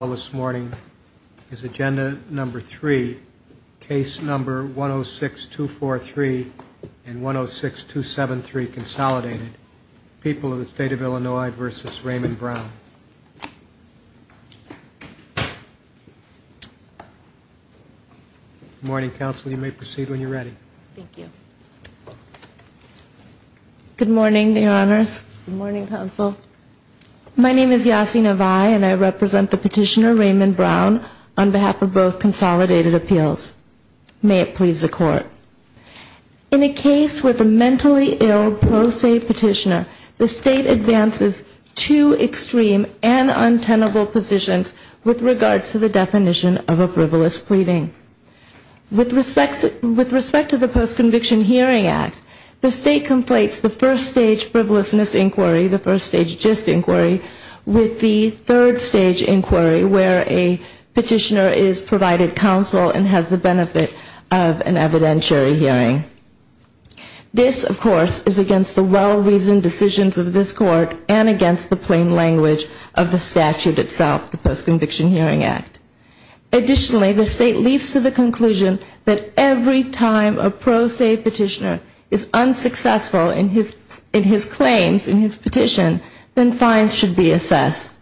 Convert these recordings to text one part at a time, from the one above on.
This morning is agenda number three, case number 106243 and 106273, Consolidated, People of the State of Illinois v. Raymond Brown. Good morning, counsel. You may proceed when you're ready. Thank you. Good morning, your honors. Good morning, counsel. My name is Yasi Navai and I represent the petitioner, Raymond Brown, on behalf of both Consolidated Appeals. May it please the court. In a case with a mentally ill pro se petitioner, the state advances two extreme and untenable positions with regards to the definition of a frivolous pleading. With respect to the Post-Conviction Hearing Act, the state completes the first stage frivolousness inquiry, the first stage just inquiry, with the third stage inquiry where a petitioner is provided counsel and has the benefit of an evidentiary hearing. This, of course, is against the well-reasoned decisions of this court and against the plain language of the statute itself, the Post-Conviction Hearing Act. Additionally, the state leaps to the conclusion that every time a pro se petitioner is unsuccessful in his claims, in his petition, then fines should be assessed.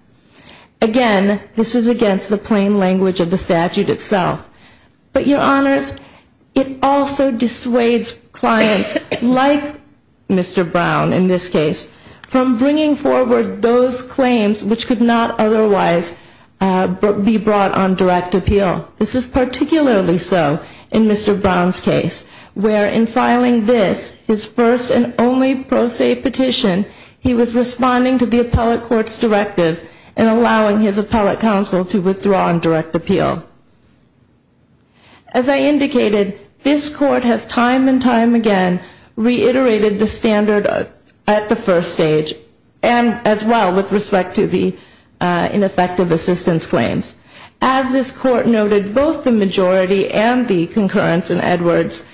Again, this is against the plain language of the statute itself. But, Your Honors, it also dissuades clients like Mr. Brown, in this case, from bringing forward those claims which could not otherwise be brought on direct appeal. This is particularly so in Mr. Brown's case, where in filing this, his first and only pro se petition, he was responding to the appellate court's directive and allowing his appellate counsel to withdraw on direct appeal. As I indicated, this court has time and time again reiterated the standard at the first stage and as well with respect to the ineffective assistance claims. As this court noted, both the majority and the concurrence in Edwards,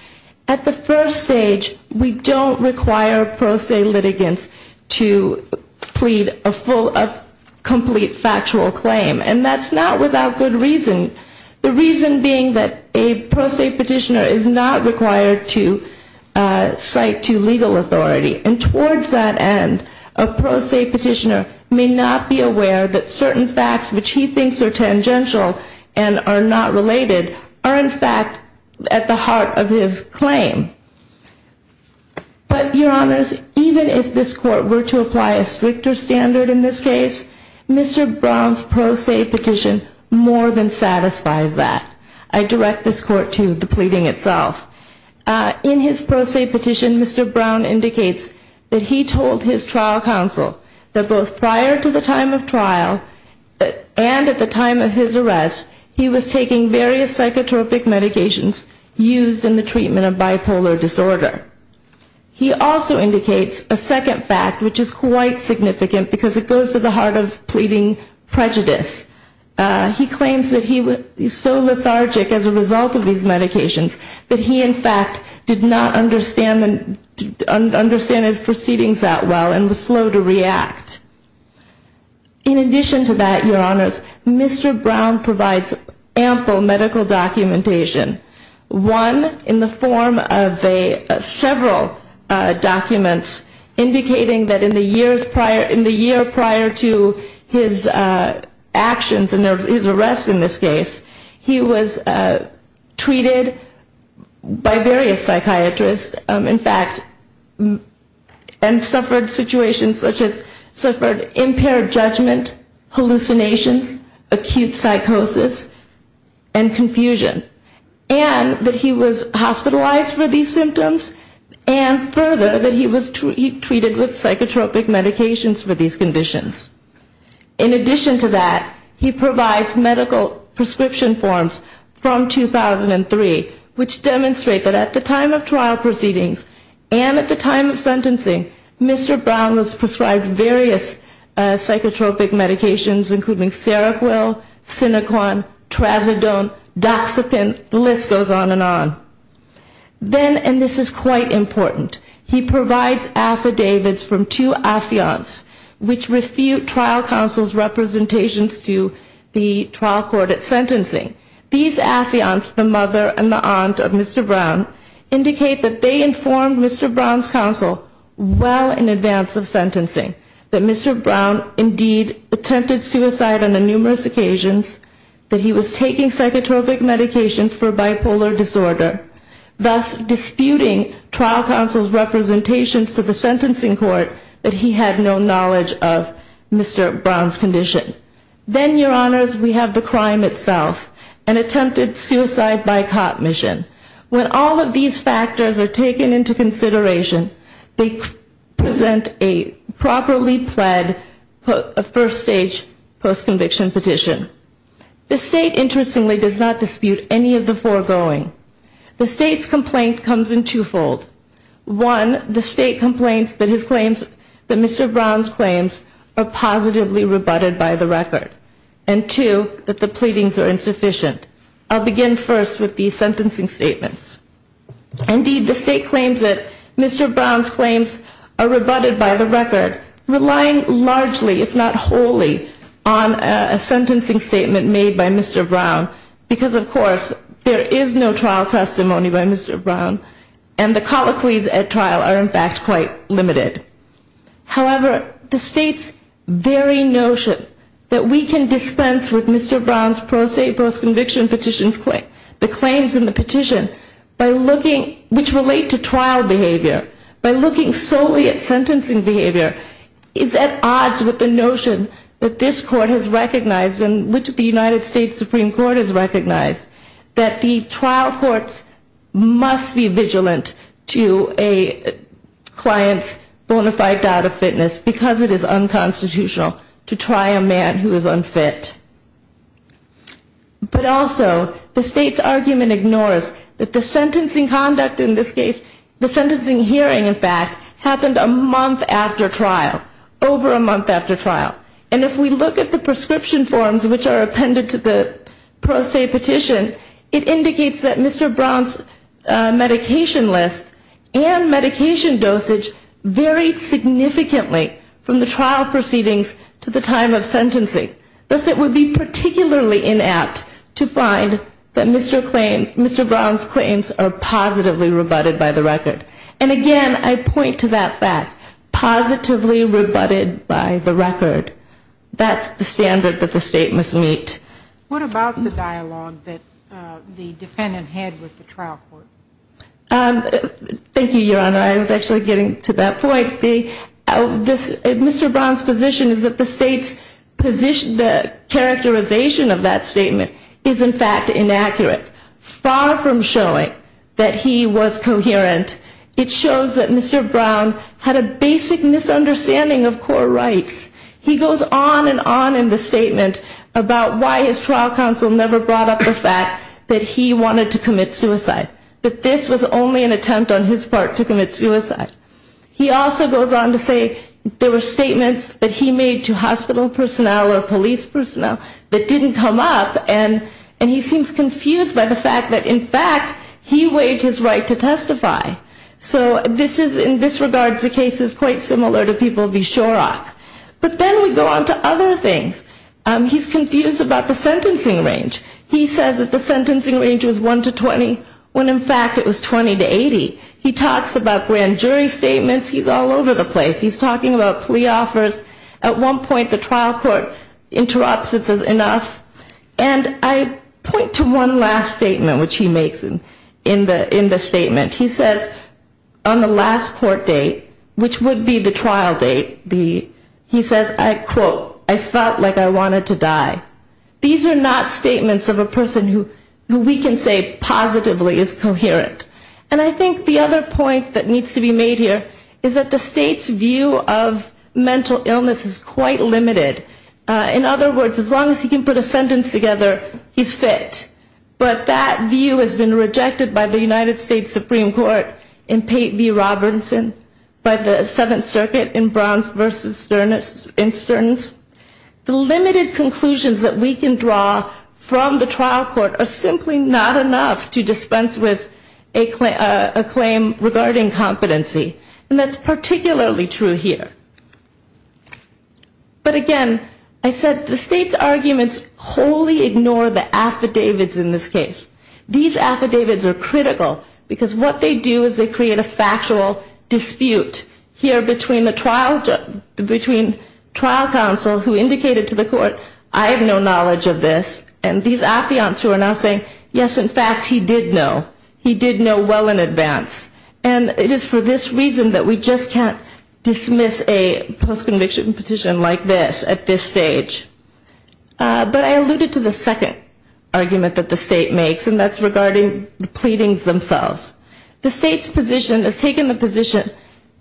at the first stage, we don't require pro se litigants to plead a full, a complete factual claim. And that's not without good reason. The reason being that a pro se petitioner is not required to cite to legal authority. And towards that end, a pro se petitioner may not be aware that certain facts, which he thinks are tangential and are not related, are in fact at the heart of his claim. But, Your Honors, even if this court were to apply a stricter standard in this case, Mr. Brown's pro se petition more than satisfies that. I direct this court to the pleading itself. In his pro se petition, Mr. Brown indicates that he told his trial counsel that both prior to the time of trial and at the time of his arrest, he was taking various psychotropic medications used in the treatment of bipolar disorder. He also indicates a second fact, which is quite significant because it goes to the heart of pleading prejudice. He claims that he was so lethargic as a result of these medications that he, in fact, did not understand his proceedings that well and was slow to react. In addition to that, Your Honors, Mr. Brown provides ample medical documentation. One in the form of several documents indicating that in the year prior to his actions and his arrest in this case, he was treated by various psychiatrists, in fact, and suffered situations such as impaired judgment, hallucinations, acute psychosis, and confusion. And that he was hospitalized for these symptoms, and further, that he was treated with psychotropic medications for these conditions. In addition to that, he provides medical prescription forms from 2003, which demonstrate that at the time of trial proceedings and at the time of sentencing, Mr. Brown was prescribed various psychotropic medications, including Seroquel, Sinoquan, Trazodone, Doxepin, Listerine, and other psychotropic medications. And the list goes on and on. Then, and this is quite important, he provides affidavits from two affiants, which refute trial counsel's representations to the trial court at sentencing. These affiants, the mother and the aunt of Mr. Brown, indicate that they informed Mr. Brown's counsel well in advance of sentencing, that Mr. Brown indeed attempted suicide on numerous occasions, that he was taking psychotropic medications for bipolar disorder, thus disputing trial counsel's representations to the sentencing court that he had no knowledge of Mr. Brown's condition. Then, your honors, we have the crime itself, an attempted suicide by caught mission. When all of these factors are taken into consideration, they present a properly pled first stage post-conviction petition. The state, interestingly, does not dispute any of the foregoing. The state's complaint comes in twofold. One, the state complains that his claims, that Mr. Brown's claims are positively rebutted by the record. And two, that the pleadings are insufficient. I'll begin first with the sentencing statements. Indeed, the state claims that Mr. Brown's claims are rebutted by the record, relying largely, if not wholly, on a sentencing statement made by Mr. Brown. Because, of course, there is no trial testimony by Mr. Brown, and the colloquies at trial are, in fact, quite limited. However, the state's very notion that we can dispense with Mr. Brown's pro se post-conviction petition, the claims in the petition, by looking, which relate to trial behavior, by looking solely at sentencing behavior, is at odds with the notion that this court has recognized, and which the United States Supreme Court has recognized, that the trial courts must be vigilant to a client's bona fide doubt of fitness, because it is unconstitutional to try a man who is unfit. But also, the state's argument ignores that the sentencing conduct, in this case, the sentencing hearing, in fact, happened a month after trial, over a month after trial. And if we look at the prescription forms which are appended to the pro se petition, it indicates that Mr. Brown's medication list and medication dosage varied significantly from the trial proceedings to the time of sentencing. Thus, it would be particularly inapt to find that Mr. Brown's claims are positively rebutted by the record. And again, I point to that fact, positively rebutted by the record. That's the standard that the state must meet. What about the dialogue that the defendant had with the trial court? Thank you, Your Honor. I was actually getting to that point. The characterization of that statement is, in fact, inaccurate, far from showing that he was coherent. It shows that Mr. Brown had a basic misunderstanding of core rights. He goes on and on in the statement about why his trial counsel never brought up the fact that he wanted to commit suicide, that this was only an attempt on his part to commit suicide. He also goes on to say there were statements that he made to hospital personnel or police personnel that didn't come up, and he seems confused by the fact that, in fact, he waived his right to testify. So this is, in this regard, the case is quite similar to people v. Shorrock. But then we go on to other things. He's confused about the sentencing range. He says that the sentencing range was 1 to 20, when, in fact, it was 20 to 80. He talks about grand jury statements. He's all over the place. He's talking about plea offers. At one point, the trial court interrupts. It's enough. And I point to one last statement, which he makes in the statement. He says on the last court date, which would be the trial date, he says, I quote, I felt like I wanted to die. These are not statements of a person who we can say positively is coherent. And I think the other point that needs to be made here is that the state's view of mental illness is quite limited. In other words, as long as he can put a sentence together, he's fit. But that view has been rejected by the United States Supreme Court in Pate v. Robertson, by the Seventh Circuit in Browns v. Stearns. The limited conclusions that we can draw from the trial court are simply not enough to dispense with a claim regarding competency. And that's particularly true here. But again, I said the state's arguments wholly ignore the affidavits in this case. These affidavits are critical because what they do is they create a factual dispute here between the trial counsel who indicated to the court, I have no knowledge of this, and these affiants who are now saying, yes, in fact, he did know. And it is for this reason that we just can't dismiss a post-conviction petition like this at this stage. But I alluded to the second argument that the state makes, and that's regarding the pleadings themselves. The state's position has taken the position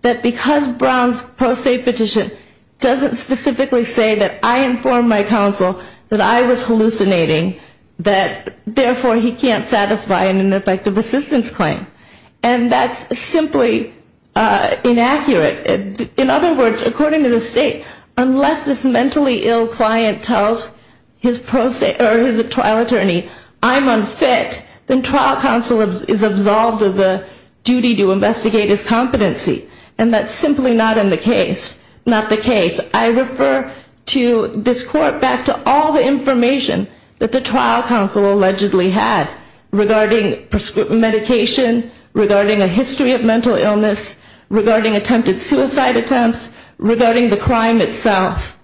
that because Brown's post-state petition doesn't specifically say that I informed my counsel that I was hallucinating, that therefore he can't satisfy an ineffective assistance claim. And that's simply inaccurate. In other words, according to the state, unless this mentally ill client tells his trial attorney I'm unfit, then trial counsel is absolved of the duty to investigate his competency. And that's simply not the case. I refer to this court back to all the information that the trial counsel allegedly had regarding prescription medication, regarding a history of mental illness, regarding attempted suicide attempts, regarding the crime itself.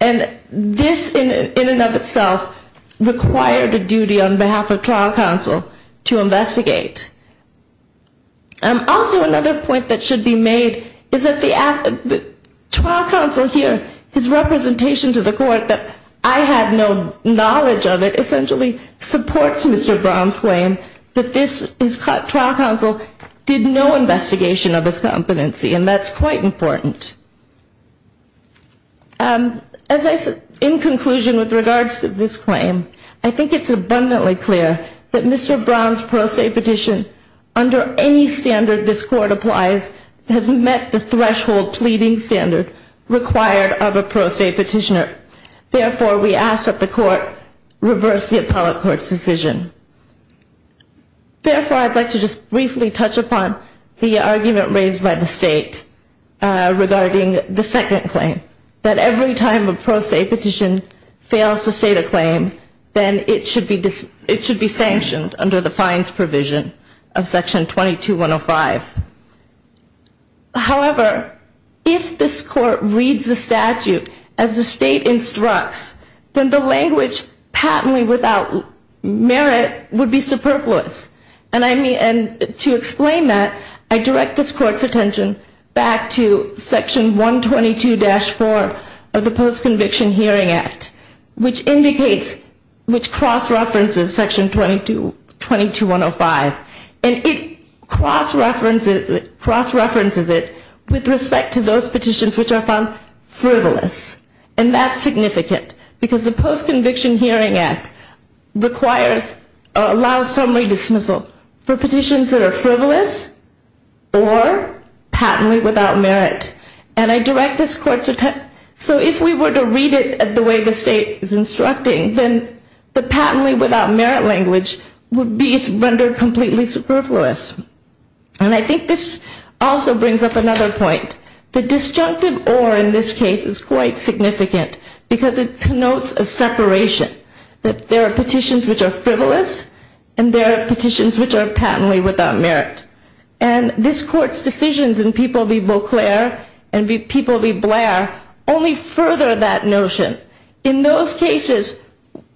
And this in and of itself required a duty on behalf of trial counsel to investigate. Also, another point that should be made is that the trial counsel here, his representation to the court that I had no knowledge of it, essentially supports Mr. Brown's claim that his trial counsel did no investigation of his competency. And that's quite important. In conclusion, with regards to this claim, I think it's abundantly clear that Mr. Brown's post-state petition, under any standard this court applies, has met the threshold pleading standard required of a post-state petitioner. Therefore, we ask that the court reverse the appellate court's decision. Therefore, I'd like to just briefly touch upon the argument raised by the state regarding the second claim. That every time a post-state petition fails to state a claim, then it should be sanctioned under the fines provision of Section 22-105. However, if this court reads the statute as the state instructs, then the language patently without merit of the state should not be used. That would be superfluous. And to explain that, I direct this court's attention back to Section 122-4 of the Post-Conviction Hearing Act, which cross-references Section 22-105. And it cross-references it with respect to those petitions which are found frivolous. And that's significant, because the Post-Conviction Hearing Act allows summary dismissal for petitions that are frivolous or patently without merit. And I direct this court's attention, so if we were to read it the way the state is instructing, then the patently without merit language would be rendered completely superfluous. And I think this also brings up another point. The disjunctive or in this case is quite significant, because it connotes a separation. That there are petitions which are frivolous, and there are petitions which are patently without merit. And this court's decisions in People v. Beauclair and People v. Blair only further that notion. In those cases,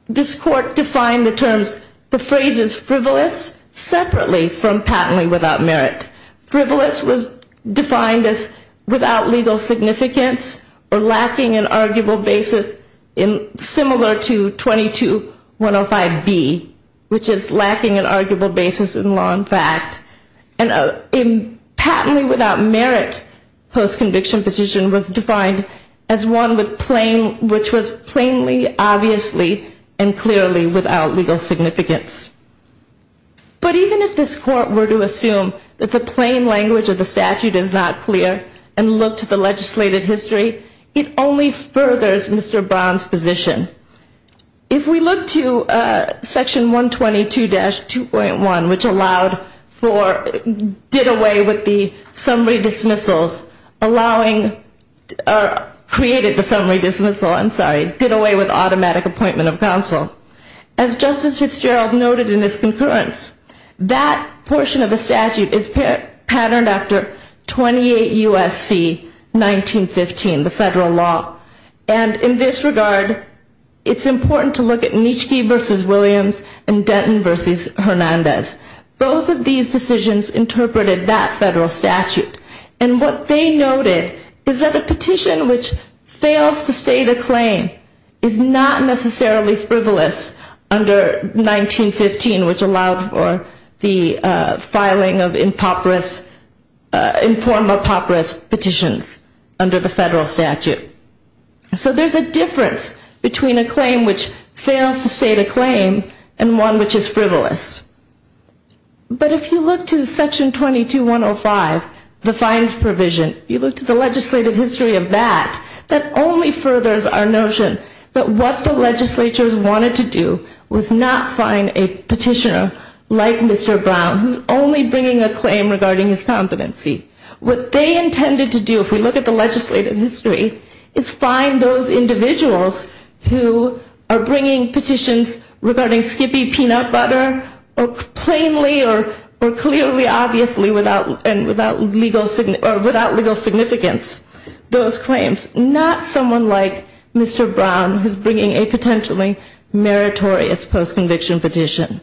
this court defined the terms, the phrases frivolous separately from patently without merit. Frivolous was defined as without legal significance or lacking an arguable basis similar to 22-105B, which is lacking an arguable basis in law and fact. And patently without merit post-conviction petition was defined as one with plain, which was not a legal basis. It was plainly, obviously, and clearly without legal significance. But even if this court were to assume that the plain language of the statute is not clear and look to the legislated history, it only furthers Mr. Brown's position. If we look to Section 122-2.1, which allowed for, did away with the summary dismissals, allowing, or created the summary dismissal, I'm sorry. Did away with automatic appointment of counsel. As Justice Fitzgerald noted in his concurrence, that portion of the statute is patterned after 28 U.S.C. 1915, the federal law. And in this regard, it's important to look at Nitschke v. Williams and Denton v. Hernandez. Both of these decisions interpreted that federal statute. And what they noted is that a petition which fails to state a claim is not necessarily frivolous under 1915, which allowed for the filing of informal papyrus petitions under the federal statute. So there's a difference between a claim which fails to state a claim and one which is frivolous. But if you look to Section 22-105, the fines provision, if you look to the legislative history of that, that only furthers our notion that what the legislatures wanted to do was not find a petitioner like Mr. Brown, who's only bringing a claim regarding his competency. What they intended to do, if we look at the legislative history, is find those individuals who are bringing petitions regarding Skippy Peanut Butter or other petitions. Or plainly or clearly, obviously, without legal significance, those claims. Not someone like Mr. Brown, who's bringing a potentially meritorious post-conviction petition.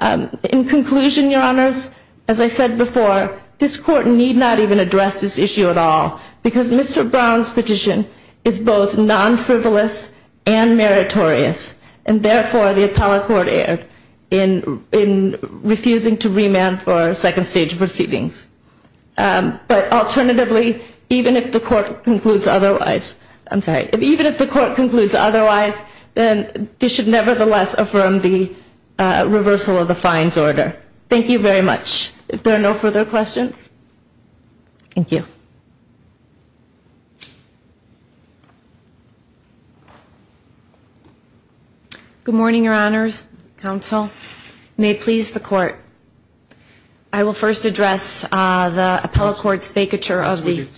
In conclusion, Your Honors, as I said before, this Court need not even address this issue at all. Because Mr. Brown's petition is both non-frivolous and meritorious. And therefore, the appellate court erred in refusing to remand for second-stage proceedings. But alternatively, even if the Court concludes otherwise, I'm sorry, even if the Court concludes otherwise, then this should nevertheless affirm the reversal of the fines order. Thank you very much. If there are no further questions, thank you. Good morning, Your Honors, Counsel. May it please the Court. I will first address the appellate court's vacature of the...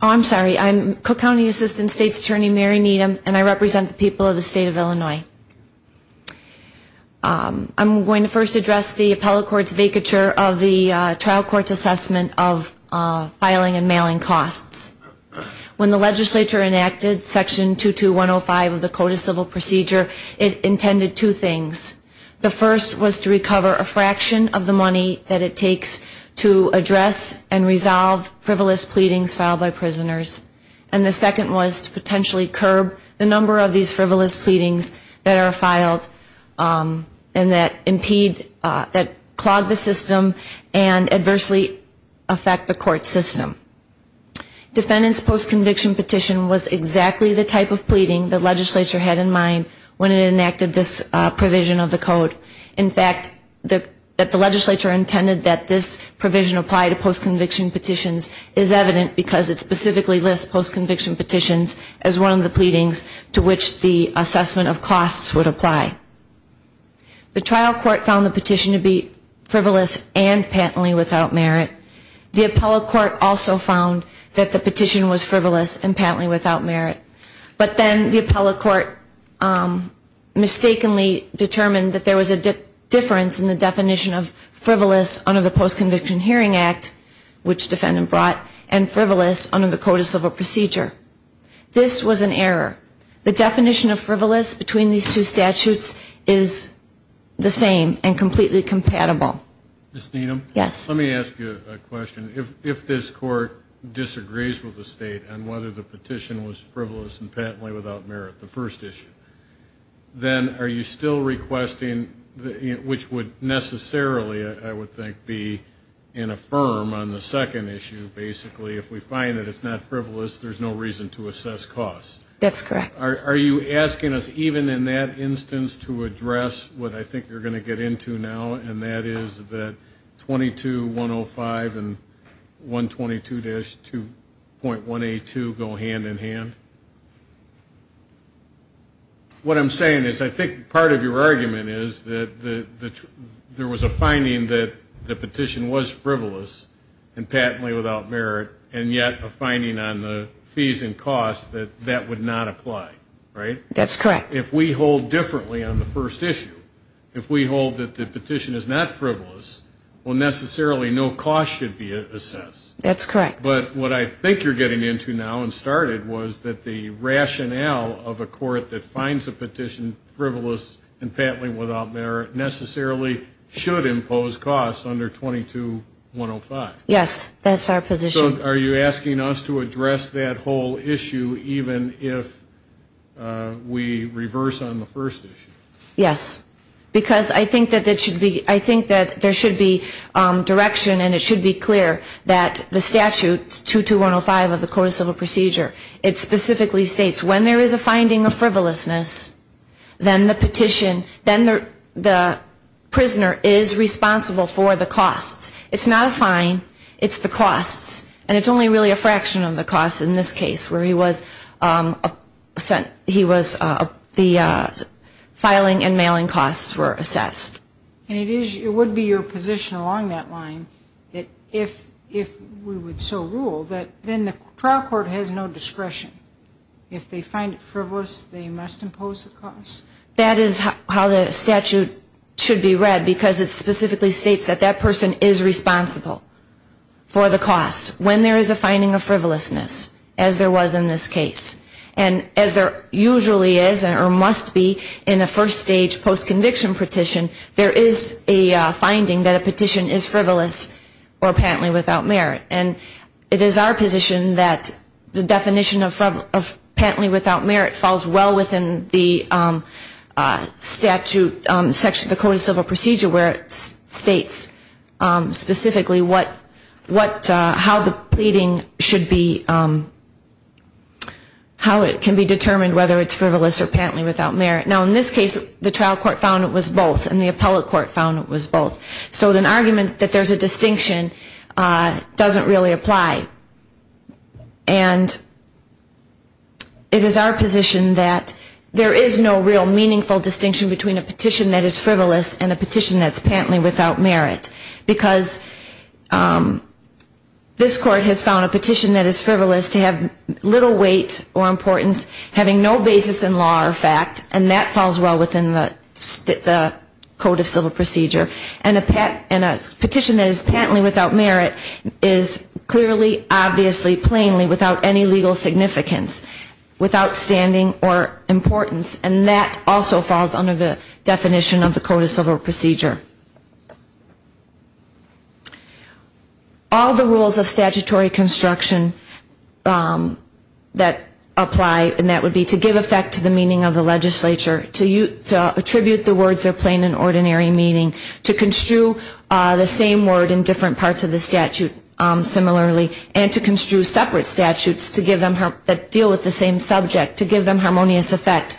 Oh, I'm sorry. I'm Cook County Assistant State's Attorney Mary Needham, and I represent the people of the State of Illinois. I'm going to first address the appellate court's vacature of the trial court's assessment of filing and mailing costs. When the legislature enacted Section 22105 of the Code of Civil Procedure, it intended two things. The first was to recover a fraction of the money that it takes to address and resolve frivolous pleadings filed by prisoners. And the second was to potentially curb the number of these frivolous pleadings that are filed and that impede, that clog the system and adversely affect the court system. The defendant's postconviction petition was exactly the type of pleading the legislature had in mind when it enacted this provision of the Code. In fact, that the legislature intended that this provision apply to postconviction petitions is evident because it specifically lists postconviction petitions as one of the pleadings to which the assessment of costs would apply. The trial court found the petition to be frivolous and patently without merit. The appellate court also found that the petition was frivolous and patently without merit. But then the appellate court mistakenly determined that there was a difference in the definition of frivolous under the Postconviction Hearing Act, which the defendant brought, and frivolous under the Code of Civil Procedure. This was an error. The definition of frivolous between these two statutes is the same and completely compatible. Ms. Needham? Yes. Let me ask you a question. If this court disagrees with the state on whether the petition was frivolous and patently without merit, the first issue, then are you still requesting, which would necessarily, I would think, be in a firm on the second issue, basically, if we find that it's not frivolous, there's no reason to assess costs? That's correct. Are you asking us, even in that instance, to address what I think you're going to get into now, and that is whether the petition was frivolous and patently without merit? Is it that 22-105 and 122-2.182 go hand in hand? What I'm saying is I think part of your argument is that there was a finding that the petition was frivolous and patently without merit, and yet a finding on the fees and costs that that would not apply, right? That's correct. If we hold differently on the first issue, if we hold that the petition is not frivolous, well, necessarily no cost should be assessed. That's correct. But what I think you're getting into now and started was that the rationale of a court that finds a petition frivolous and patently without merit necessarily should impose costs under 22-105. Yes. That's our position. So are you asking us to address that whole issue even if we reverse on the first issue? Yes. Because I think that there should be direction and it should be clear that the statute, 22-105 of the Court of Civil Procedure, it specifically states when there is a finding of frivolousness, then the petition, then the prisoner is responsible for the costs. It's not a fine, it's the costs. And it's only really a fraction of the costs in this case where he was, the filing and mailing costs were assessed. And it is, it would be your position along that line that if we would so rule that then the trial court has no discretion. If they find it frivolous, they must impose the costs? That is how the statute should be read because it specifically states that that person is responsible for the costs. When they find it frivolous, they must impose the costs. When there is a finding of frivolousness, as there was in this case, and as there usually is or must be in a first stage post-conviction petition, there is a finding that a petition is frivolous or patently without merit. And it is our position that the definition of patently without merit falls well within the statute section of the Court of Civil Procedure where it states specifically what, how the person is responsible for the costs. And how the pleading should be, how it can be determined whether it's frivolous or patently without merit. Now in this case, the trial court found it was both and the appellate court found it was both. So an argument that there's a distinction doesn't really apply. And it is our position that there is no real meaningful distinction between a petition that is frivolous and a petition that's patently without merit. Because this court has found a petition that is frivolous to have little weight or importance, having no basis in law or fact, and that falls well within the Code of Civil Procedure. And a petition that is patently without merit is clearly, obviously, plainly without any legal significance, without standing or importance. And that also falls under the definition of the Code of Civil Procedure. All the rules of statutory construction that apply, and that would be to give effect to the meaning of the legislature, to attribute the words of plain and ordinary meaning, to construe the same word in different parts of the statute similarly, and to construe separate statutes that deal with the same subject, to give them harmonious effect,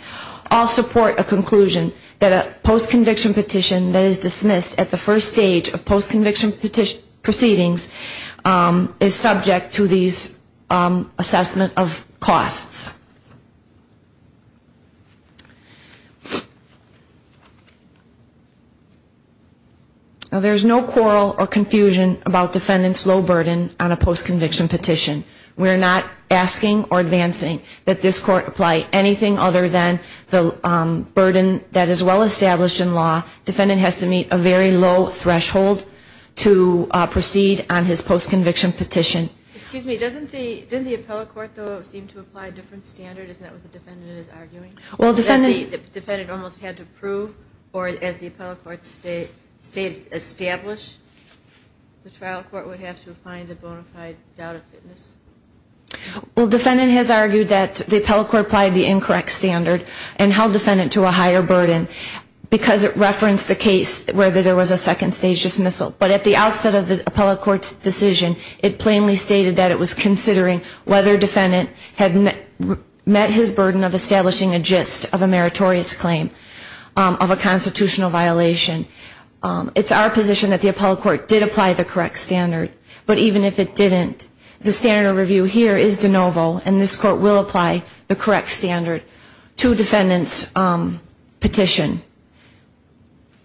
all support a conclusion that a post-conviction petition that is dismissed at the first stage of court proceedings is not a statutory construction. And that's why the post-conviction petition proceedings is subject to these assessment of costs. Now, there's no quarrel or confusion about defendant's low burden on a post-conviction petition. We're not asking or advancing that this court apply anything other than the burden that is well-established in law. Defendant has to meet a very low threshold of the law. And that's why we're asking the defendant to proceed on his post-conviction petition. Excuse me, doesn't the, didn't the appellate court, though, seem to apply a different standard? Isn't that what the defendant is arguing? Well, defendant almost had to prove, or as the appellate court established, the trial court would have to find a bona fide doubt of fitness. Well, defendant has argued that the appellate court applied the incorrect standard and held defendant to a higher burden because it referenced a case where there was a second stage dismissal. But at the outset of the appellate court's decision, it plainly stated that it was considering whether defendant had met his burden of establishing a gist of a meritorious claim of a constitutional violation. It's our position that the appellate court did apply the correct standard. But even if it didn't, the standard of review here is de novo, and this court will apply the correct standard to defendant's petition.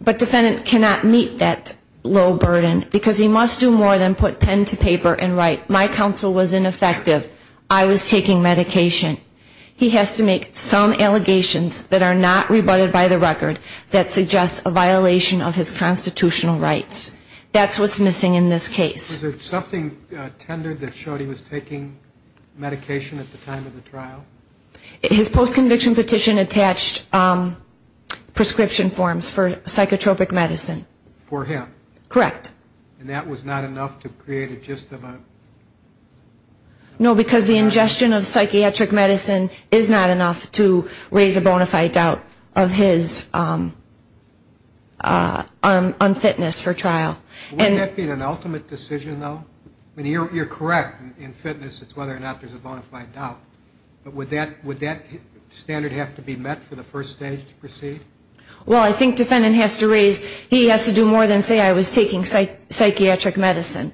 But defendant cannot meet that low burden because he must do more than put pen to paper and write, my counsel was ineffective. I was taking medication. He has to make some allegations that are not rebutted by the record that suggest a violation of his constitutional rights. That's what's missing in this case. Was there something tendered that showed he was taking medication at the time of the trial? His post-conviction petition attached prescription forms for psychotropic medicine. For him? Correct. And that was not enough to create a gist of a... No, because the ingestion of psychiatric medicine is not enough to raise a bona fide doubt of his unfitness for trial. Wouldn't that be an ultimate decision, though? I mean, you're correct. In fitness, it's whether or not there's a bona fide doubt. Would that standard have to be met for the first stage to proceed? Well, I think defendant has to raise, he has to do more than say I was taking psychiatric medicine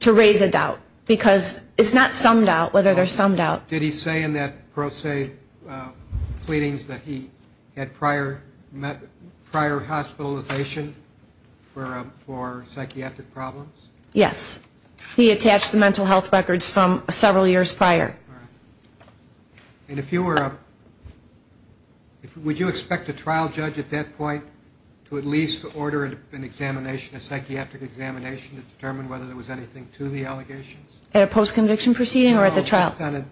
to raise a doubt, because it's not some doubt whether there's some doubt. Did he say in that pro se pleadings that he had prior hospitalization for psychiatric problems? Yes. He attached the mental health records from several years prior. And if you were, would you expect a trial judge at that point to at least order an examination, a psychiatric examination to determine whether there was anything to the allegations? At a post-conviction proceeding or at the trial? No, just on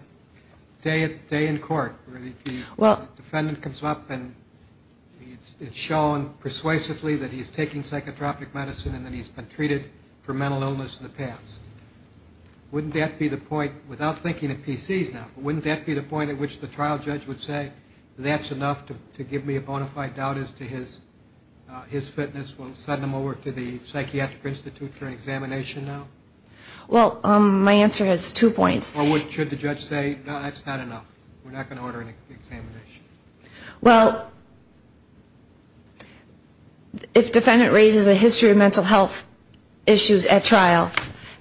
a day in court where the defendant comes up and it's shown persuasively that he's taking psychotropic medicine and that he's been treated for mental health problems. He's been treated for mental illness in the past. Wouldn't that be the point, without thinking of PCs now, but wouldn't that be the point at which the trial judge would say that's enough to give me a bona fide doubt as to his fitness? We'll send him over to the psychiatric institute for an examination now? Well, my answer has two points. Or should the judge say, no, that's not enough, we're not going to order an examination? Well, if defendant raises a history of mental health issues at trial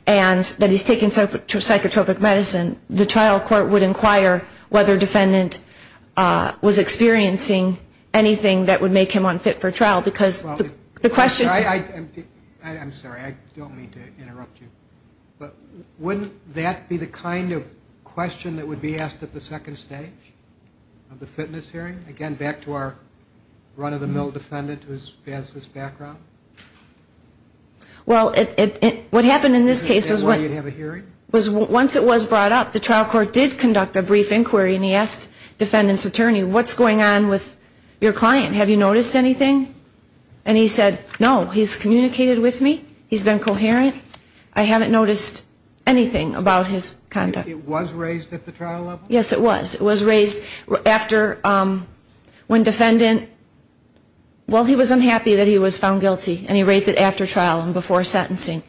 and that he's taken psychotropic medicine, the trial court would inquire whether defendant was experiencing anything that would make him unfit for trial, because the question I'm sorry, I don't mean to interrupt you, but wouldn't that be the kind of question that would be asked at the second stage of the fitness trial? Well, what happened in this case was once it was brought up, the trial court did conduct a brief inquiry and he asked defendant's attorney, what's going on with your client? Have you noticed anything? And he said, no, he's communicated with me, he's been coherent, I haven't noticed anything about his conduct. It was raised at the trial level? Yes, it was. It was raised after when defendant, well, he was unhappy that he was found guilty and he raised it after trial and before sentencing.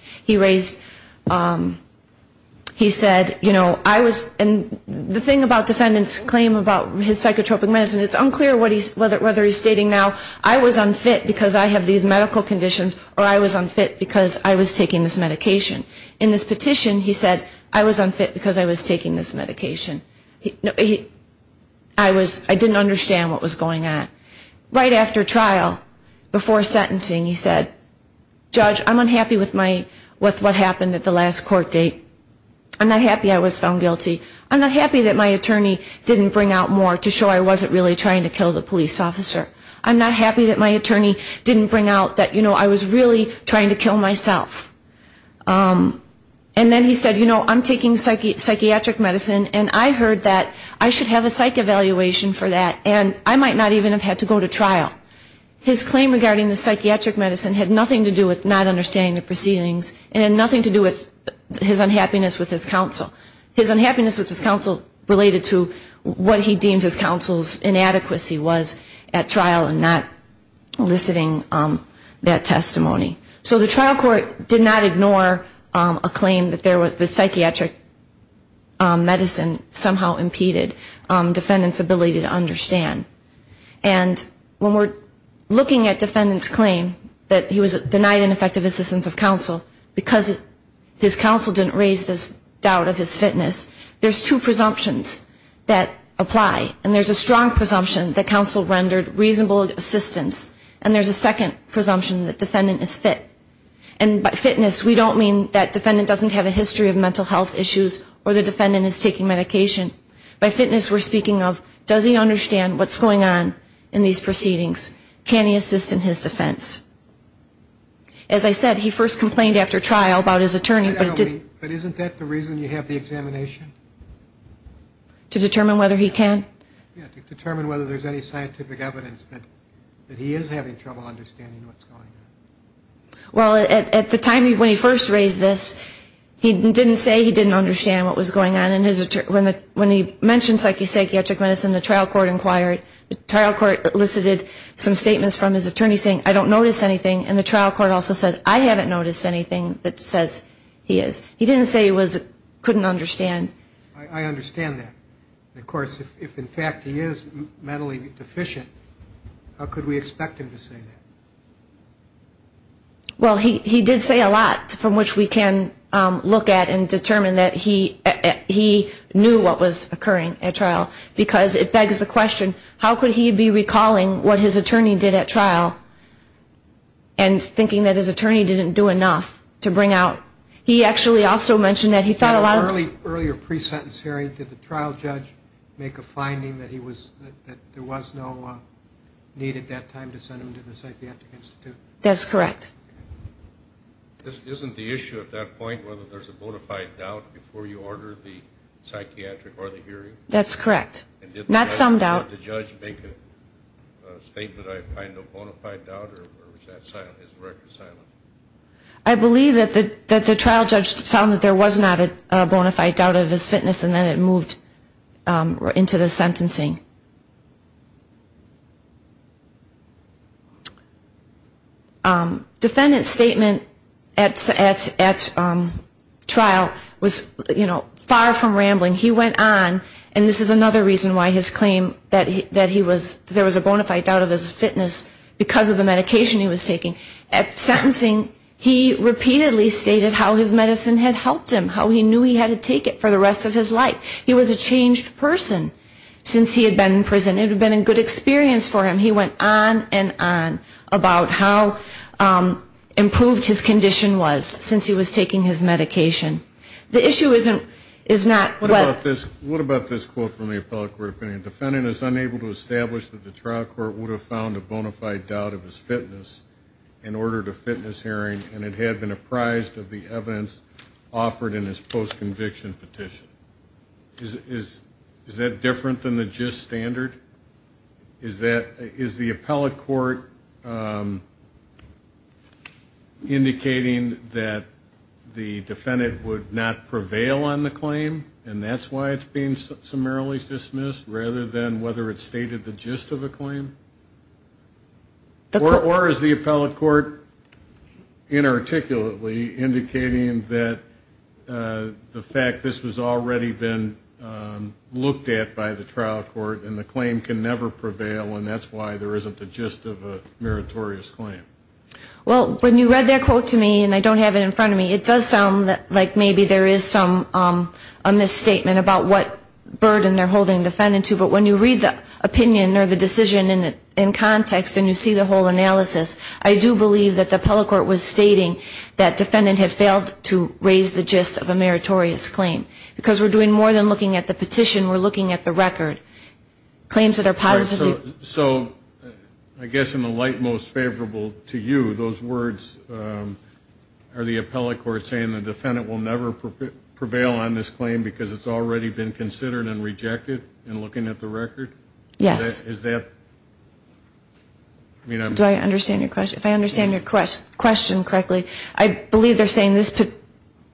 He said, you know, I was, and the thing about defendant's claim about his psychotropic medicine, it's unclear whether he's stating now, I was unfit because I have these medical conditions or I was unfit because I was taking this medication. In this petition, he said, I was unfit because I was taking this medication. I didn't understand what was going on. Right after trial, before sentencing, he said, judge, I'm unhappy with what happened at the last court date. I'm not happy I was found guilty. I'm not happy that my attorney didn't bring out more to show I wasn't really trying to kill the police officer. I'm not happy that my attorney didn't bring out that, you know, I was really trying to kill myself. And then he said, you know, I'm taking psychiatric medicine and I heard that I should have a psych evaluation for that and I might not even have had to go to trial. His claim regarding the psychiatric medicine had nothing to do with not understanding the proceedings and had nothing to do with his unhappiness with his counsel. His unhappiness with his counsel related to what he deemed his counsel's inadequacy was at trial and not eliciting that testimony. So the trial court did not ignore a claim that there was psychiatric medicine somehow impeded defendant's ability to understand. And when we're looking at defendant's claim that he was denied an effective assistance of counsel because his counsel didn't raise this doubt of his fitness, there's two presumptions that apply. And there's a strong presumption that counsel rendered reasonable assistance. And there's a second presumption that defendant is fit. And by fitness, we don't mean that defendant doesn't have a history of mental health issues or the defendant is taking medication. By fitness, we're speaking of does he understand what's going on in these proceedings? Can he assist in his defense? As I said, he first complained after trial about his attorney, but it didn't... But isn't that the reason you have the examination? To determine whether he can? Yeah, to determine whether there's any scientific evidence that he is having trouble understanding what's going on. Well, at the time when he first raised this, he didn't say he didn't understand what was going on. And when he mentioned psychiatric medicine, the trial court inquired. The trial court elicited some statements from his attorney saying, I don't notice anything. And the trial court also said, I haven't noticed anything that says he is. I understand that. Of course, if in fact he is mentally deficient, how could we expect him to say that? Well, he did say a lot from which we can look at and determine that he knew what was occurring at trial. Because it begs the question, how could he be recalling what his attorney did at trial and thinking that his attorney didn't do enough to bring out... He actually also mentioned that he thought a lot of... In an earlier pre-sentence hearing, did the trial judge make a finding that there was no need at that time to send him to the psychiatric institute? That's correct. Isn't the issue at that point whether there's a bona fide doubt before you order the psychiatric or the hearing? That's correct. Not some doubt. Did the judge make a statement of a bona fide doubt or was his record silent? I believe that the trial judge found that there was not a bona fide doubt of his fitness and then it moved into the sentencing. Defendant's statement at trial was, you know, far from rambling. He went on, and this is another reason why his claim that he was there was a bona fide doubt of his fitness because of the medication he was taking. At sentencing, he repeatedly stated how his medicine had helped him, how he knew he had to take it for the rest of his life. He was a changed person since he had been in prison. It had been a good experience for him. He went on and on about how improved his condition was since he was taking his medication. The issue is not... Was the defendant unable to establish that the trial court would have found a bona fide doubt of his fitness and ordered a fitness hearing and it had been apprised of the evidence offered in his post-conviction petition? Is that different than the gist standard? Is the appellate court indicating that the defendant would not prevail on the claim, and that's why it's being summarily dismissed, rather than whether it's stated the gist of a claim? Or is the appellate court inarticulately indicating that the fact this was already been looked at by the trial court and the claim can never prevail, and that's why there isn't the gist of a meritorious claim? Well, when you read that quote to me, and I don't have it in front of me, it does sound like maybe there is a misstatement about what burden they're referring to, but when you read the opinion or the decision in context and you see the whole analysis, I do believe that the appellate court was stating that defendant had failed to raise the gist of a meritorious claim. Because we're doing more than looking at the petition, we're looking at the record. Claims that are positive... So I guess in the light most favorable to you, those words are the appellate court saying the defendant will never prevail on this claim because it's already been considered and rejected in looking at the record? Yes. Do I understand your question? If I understand your question correctly, I believe they're saying this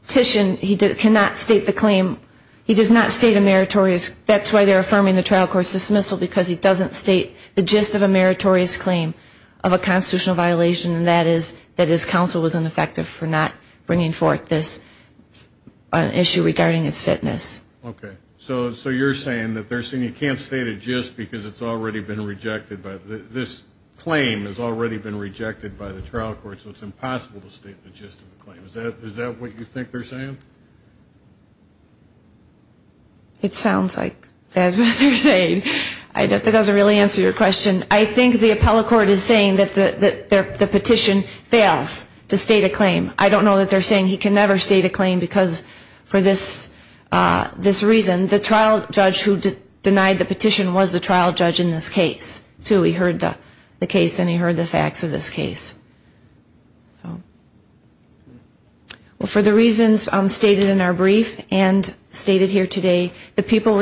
petition, he cannot state the claim, he does not state a meritorious, that's why they're affirming the trial court's dismissal, because he doesn't state the gist of a meritorious claim of a constitutional violation, and that is that his counsel was ineffective for not bringing forth this issue regarding his fitness. Okay. So you're saying that they're saying he can't state a gist because it's already been rejected by the, this claim has already been rejected by the trial court, so it's impossible to state the gist of the claim. Is that what you think they're saying? It sounds like that's what they're saying. That doesn't really answer your question. I think the appellate court is saying that the petition fails to state a claim. I don't know that they're saying he can never state a claim because for this, this reason, the trial judge who denied the petition was the trial judge in this case, too. He heard the case and he heard the facts of this case. Well, for the reasons stated in our brief and stated here today, the people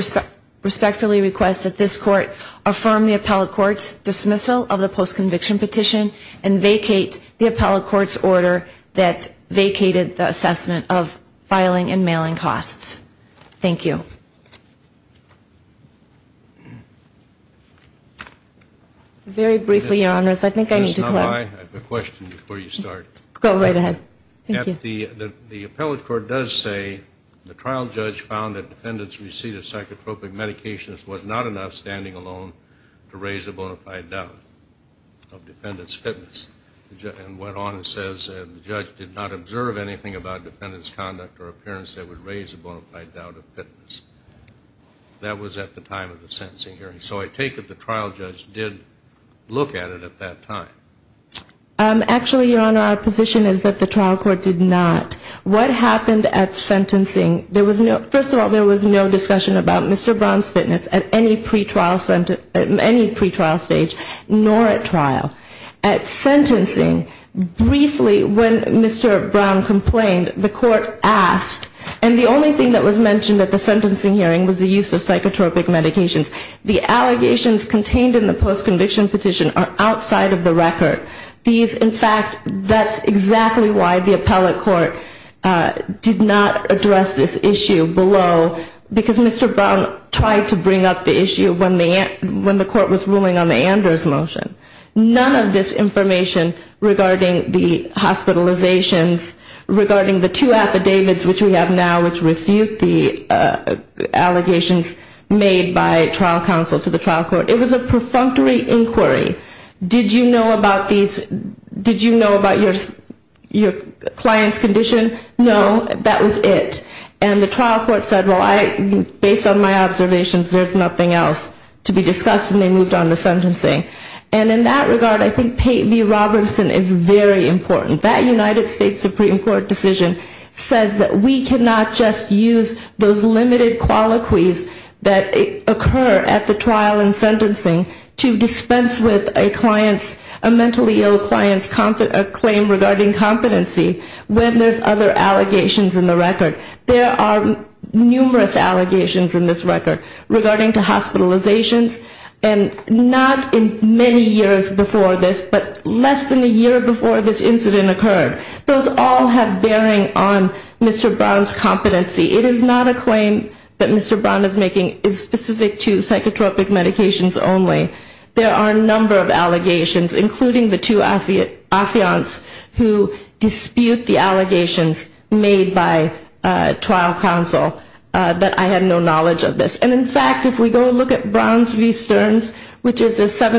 respectfully request that this court affirm the appellate court's dismissal of the post-conviction petition and vacate the appellate court's order that states that the petition fails to state a claim. And that it vacated the assessment of filing and mailing costs. Thank you. Very briefly, Your Honors, I think I need to clarify. Go right ahead. The appellate court does say the trial judge found that defendant's receipt of psychotropic medications was not enough, standing alone, to raise a bona fide doubt of defendant's fitness. And went on and says the judge did not observe anything about defendant's conduct or appearance that would raise a bona fide doubt of fitness. That was at the time of the sentencing hearing. So I take it the trial judge did look at it at that time. Actually, Your Honor, our position is that the trial court did not. What happened at sentencing, there was no, first of all, there was no discussion about Mr. Braun's fitness at any pre-trial stage, nor at trial. At sentencing, briefly, when Mr. Braun complained, the court asked, and the only thing that was mentioned at the sentencing hearing was the use of psychotropic medications. The allegations contained in the post-conviction petition are outside of the record. These, in fact, that's exactly why the appellate court did not address this issue below, because Mr. Braun tried to bring up the issue when the court was ruling on the Anders motion. None of this information regarding the hospitalizations, regarding the two affidavits which we have now which refute the allegations made by trial counsel to the trial court, it was a perfunctory inquiry. Did you know about your client's condition? No, that was it. And the trial court said, well, based on my observations, there's nothing else to be discussed, and they moved on to sentencing. And in that regard, I think Peyton v. Robinson is very important. That United States Supreme Court decision says that we cannot just use those limited colloquies that occur at the trial and sentencing to dispense with a mentally ill client's claim regarding competency when there's other allegations in the record. There are numerous allegations in this record regarding to hospitalizations, and not in the case of Peyton v. Robinson. There are several allegations in this record that occurred in many years before this, but less than a year before this incident occurred. Those all have bearing on Mr. Braun's competency. It is not a claim that Mr. Braun is making specific to psychotropic medications only. There are a number of allegations, including the two affiants who dispute the allegations made by trial counsel that I have no knowledge of this. And in the case of the Brown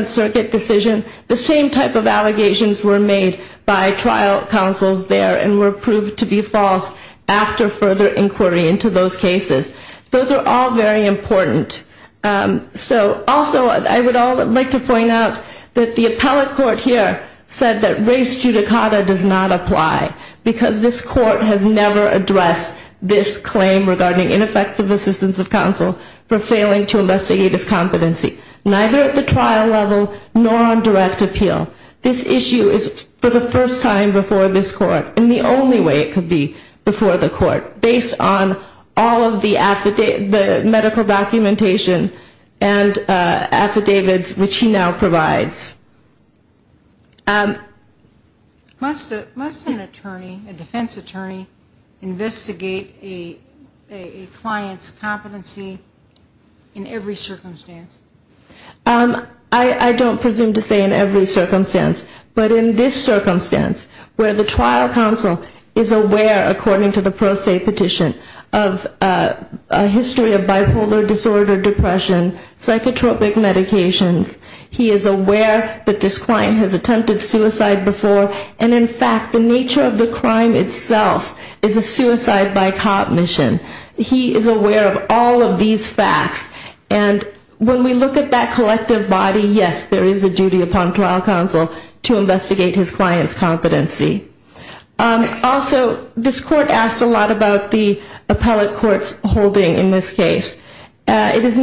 Circuit decision, the same type of allegations were made by trial counsels there and were proved to be false after further inquiry into those cases. Those are all very important. Also, I would like to point out that the appellate court here said that race judicata does not apply, because this court has never addressed this claim regarding ineffective assistance of counsel for failing to investigate his competency. Neither at the trial level, nor on direct appeal. This issue is for the first time before this court, and the only way it could be before the court, based on all of the medical documentation and affidavits which he now provides. Must an attorney, a defense attorney, investigate a client's competency in every circumstance? I don't presume to say in every circumstance, but in this circumstance, where the trial counsel is aware, according to the pro se petition, of a history of bipolar disorder, depression, psychotropic medications, he is aware that this client has attempted suicide before, and in fact, the nature of the crime itself is a suicide by cop mission. He is aware of all of these facts, and when we look at that collective body, yes, there is a duty upon trial counsel to investigate his client's competency. Also, this court asked a lot about the appellate court's holding in this case. It is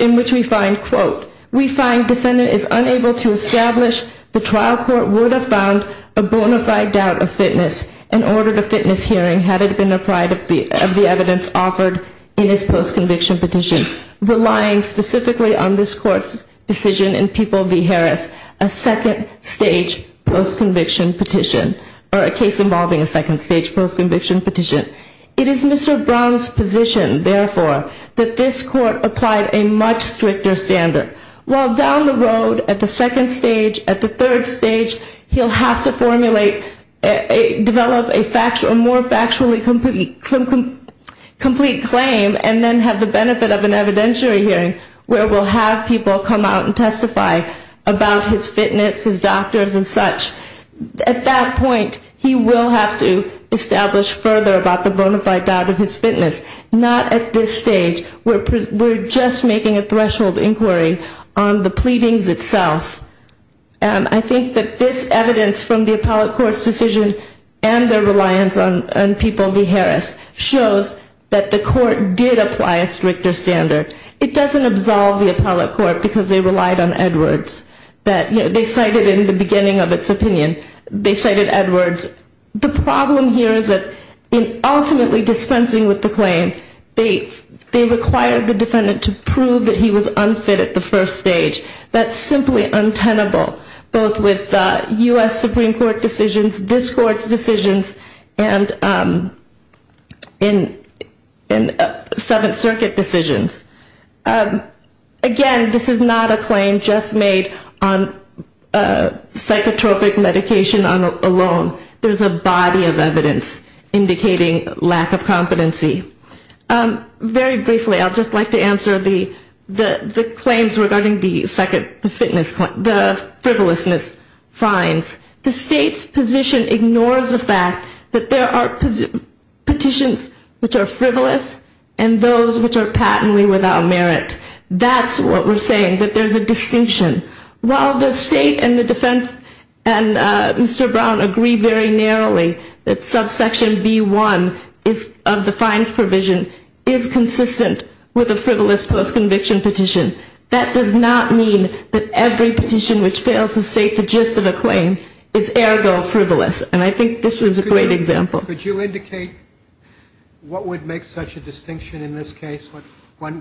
in which we find, quote, we find defendant is unable to establish the trial court would have found a bona fide doubt of fitness and ordered a fitness hearing had it been applied at the appellate court. This is the kind of evidence offered in his post conviction petition, relying specifically on this court's decision in People v. Harris, a second stage post conviction petition, or a case involving a second stage post conviction petition. It is Mr. Brown's position, therefore, that this court applied a much stricter standard. While down the road, at the second stage, at the third stage, he'll have to formulate, develop a more factually complete version of the evidence. Complete claim, and then have the benefit of an evidentiary hearing, where we'll have people come out and testify about his fitness, his doctors and such. At that point, he will have to establish further about the bona fide doubt of his fitness. Not at this stage, we're just making a threshold inquiry on the pleadings itself. And I think that this evidence from the appellate court's decision and their reliance on People v. Harris shows that there is a duty upon trial counsel that the court did apply a stricter standard. It doesn't absolve the appellate court because they relied on Edwards. They cited in the beginning of its opinion, they cited Edwards. The problem here is that in ultimately dispensing with the claim, they required the defendant to prove that he was unfit at the first stage. That's simply untenable, both with U.S. Supreme Court decisions, this court's decisions, and in the case of People v. Harris. And the Seventh Circuit decisions. Again, this is not a claim just made on psychotropic medication alone. There's a body of evidence indicating lack of competency. Very briefly, I'd just like to answer the claims regarding the second fitness claim, the frivolousness fines. The state's position ignores the fact that there are petitions which are frivolous. And those which are patently without merit. That's what we're saying, that there's a distinction. While the state and the defense and Mr. Brown agree very narrowly that subsection B1 of the fines provision is consistent with a frivolous post-conviction petition. That does not mean that every petition which fails to state the gist of a claim is ergo frivolous. And I think this is a great example. Could you indicate what would make such a distinction in this case? What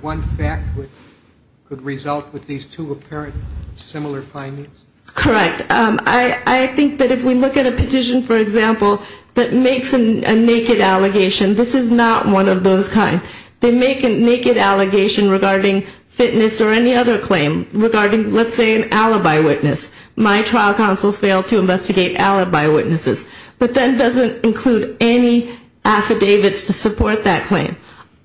one fact would result with these two apparent similar findings? Correct. I think that if we look at a petition, for example, that makes a naked allegation, this is not one of those kinds. They make a naked allegation regarding fitness or any other claim regarding, let's say, an alibi witness. My trial counsel failed to investigate alibi witnesses, but that doesn't include any affidavits to support that claim.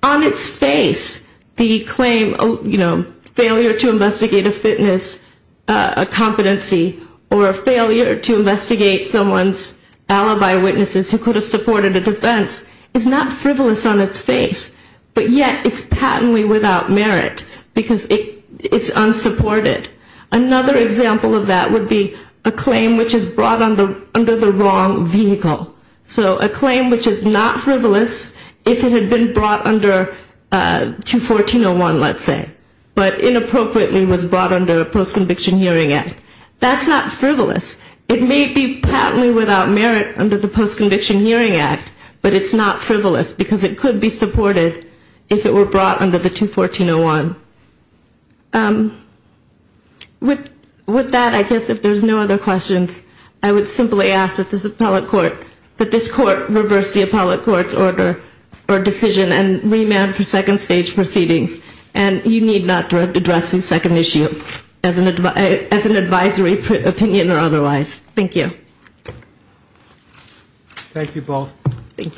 On its face, the claim, you know, failure to investigate a fitness competency or a failure to investigate someone's alibi witnesses who could have supported a defense is not frivolous on its face. But yet it's patently without merit because it's unsupported. Another example of that would be a claim which is brought under the wrong vehicle. So a claim which is not frivolous if it had been brought under 214.01, let's say, but inappropriately was brought under the Post-Conviction Hearing Act. That's not frivolous. It may be patently without merit under the Post-Conviction Hearing Act, but it's not frivolous because it could be supported if it were brought under the 214.01. With that, I guess if there's no other questions, I would simply ask that this Court reverse the appellate court's order or decision and remand for second stage proceedings. And you need not address this second issue as an advisory opinion or otherwise. Thank you. Thank you both. Thank you.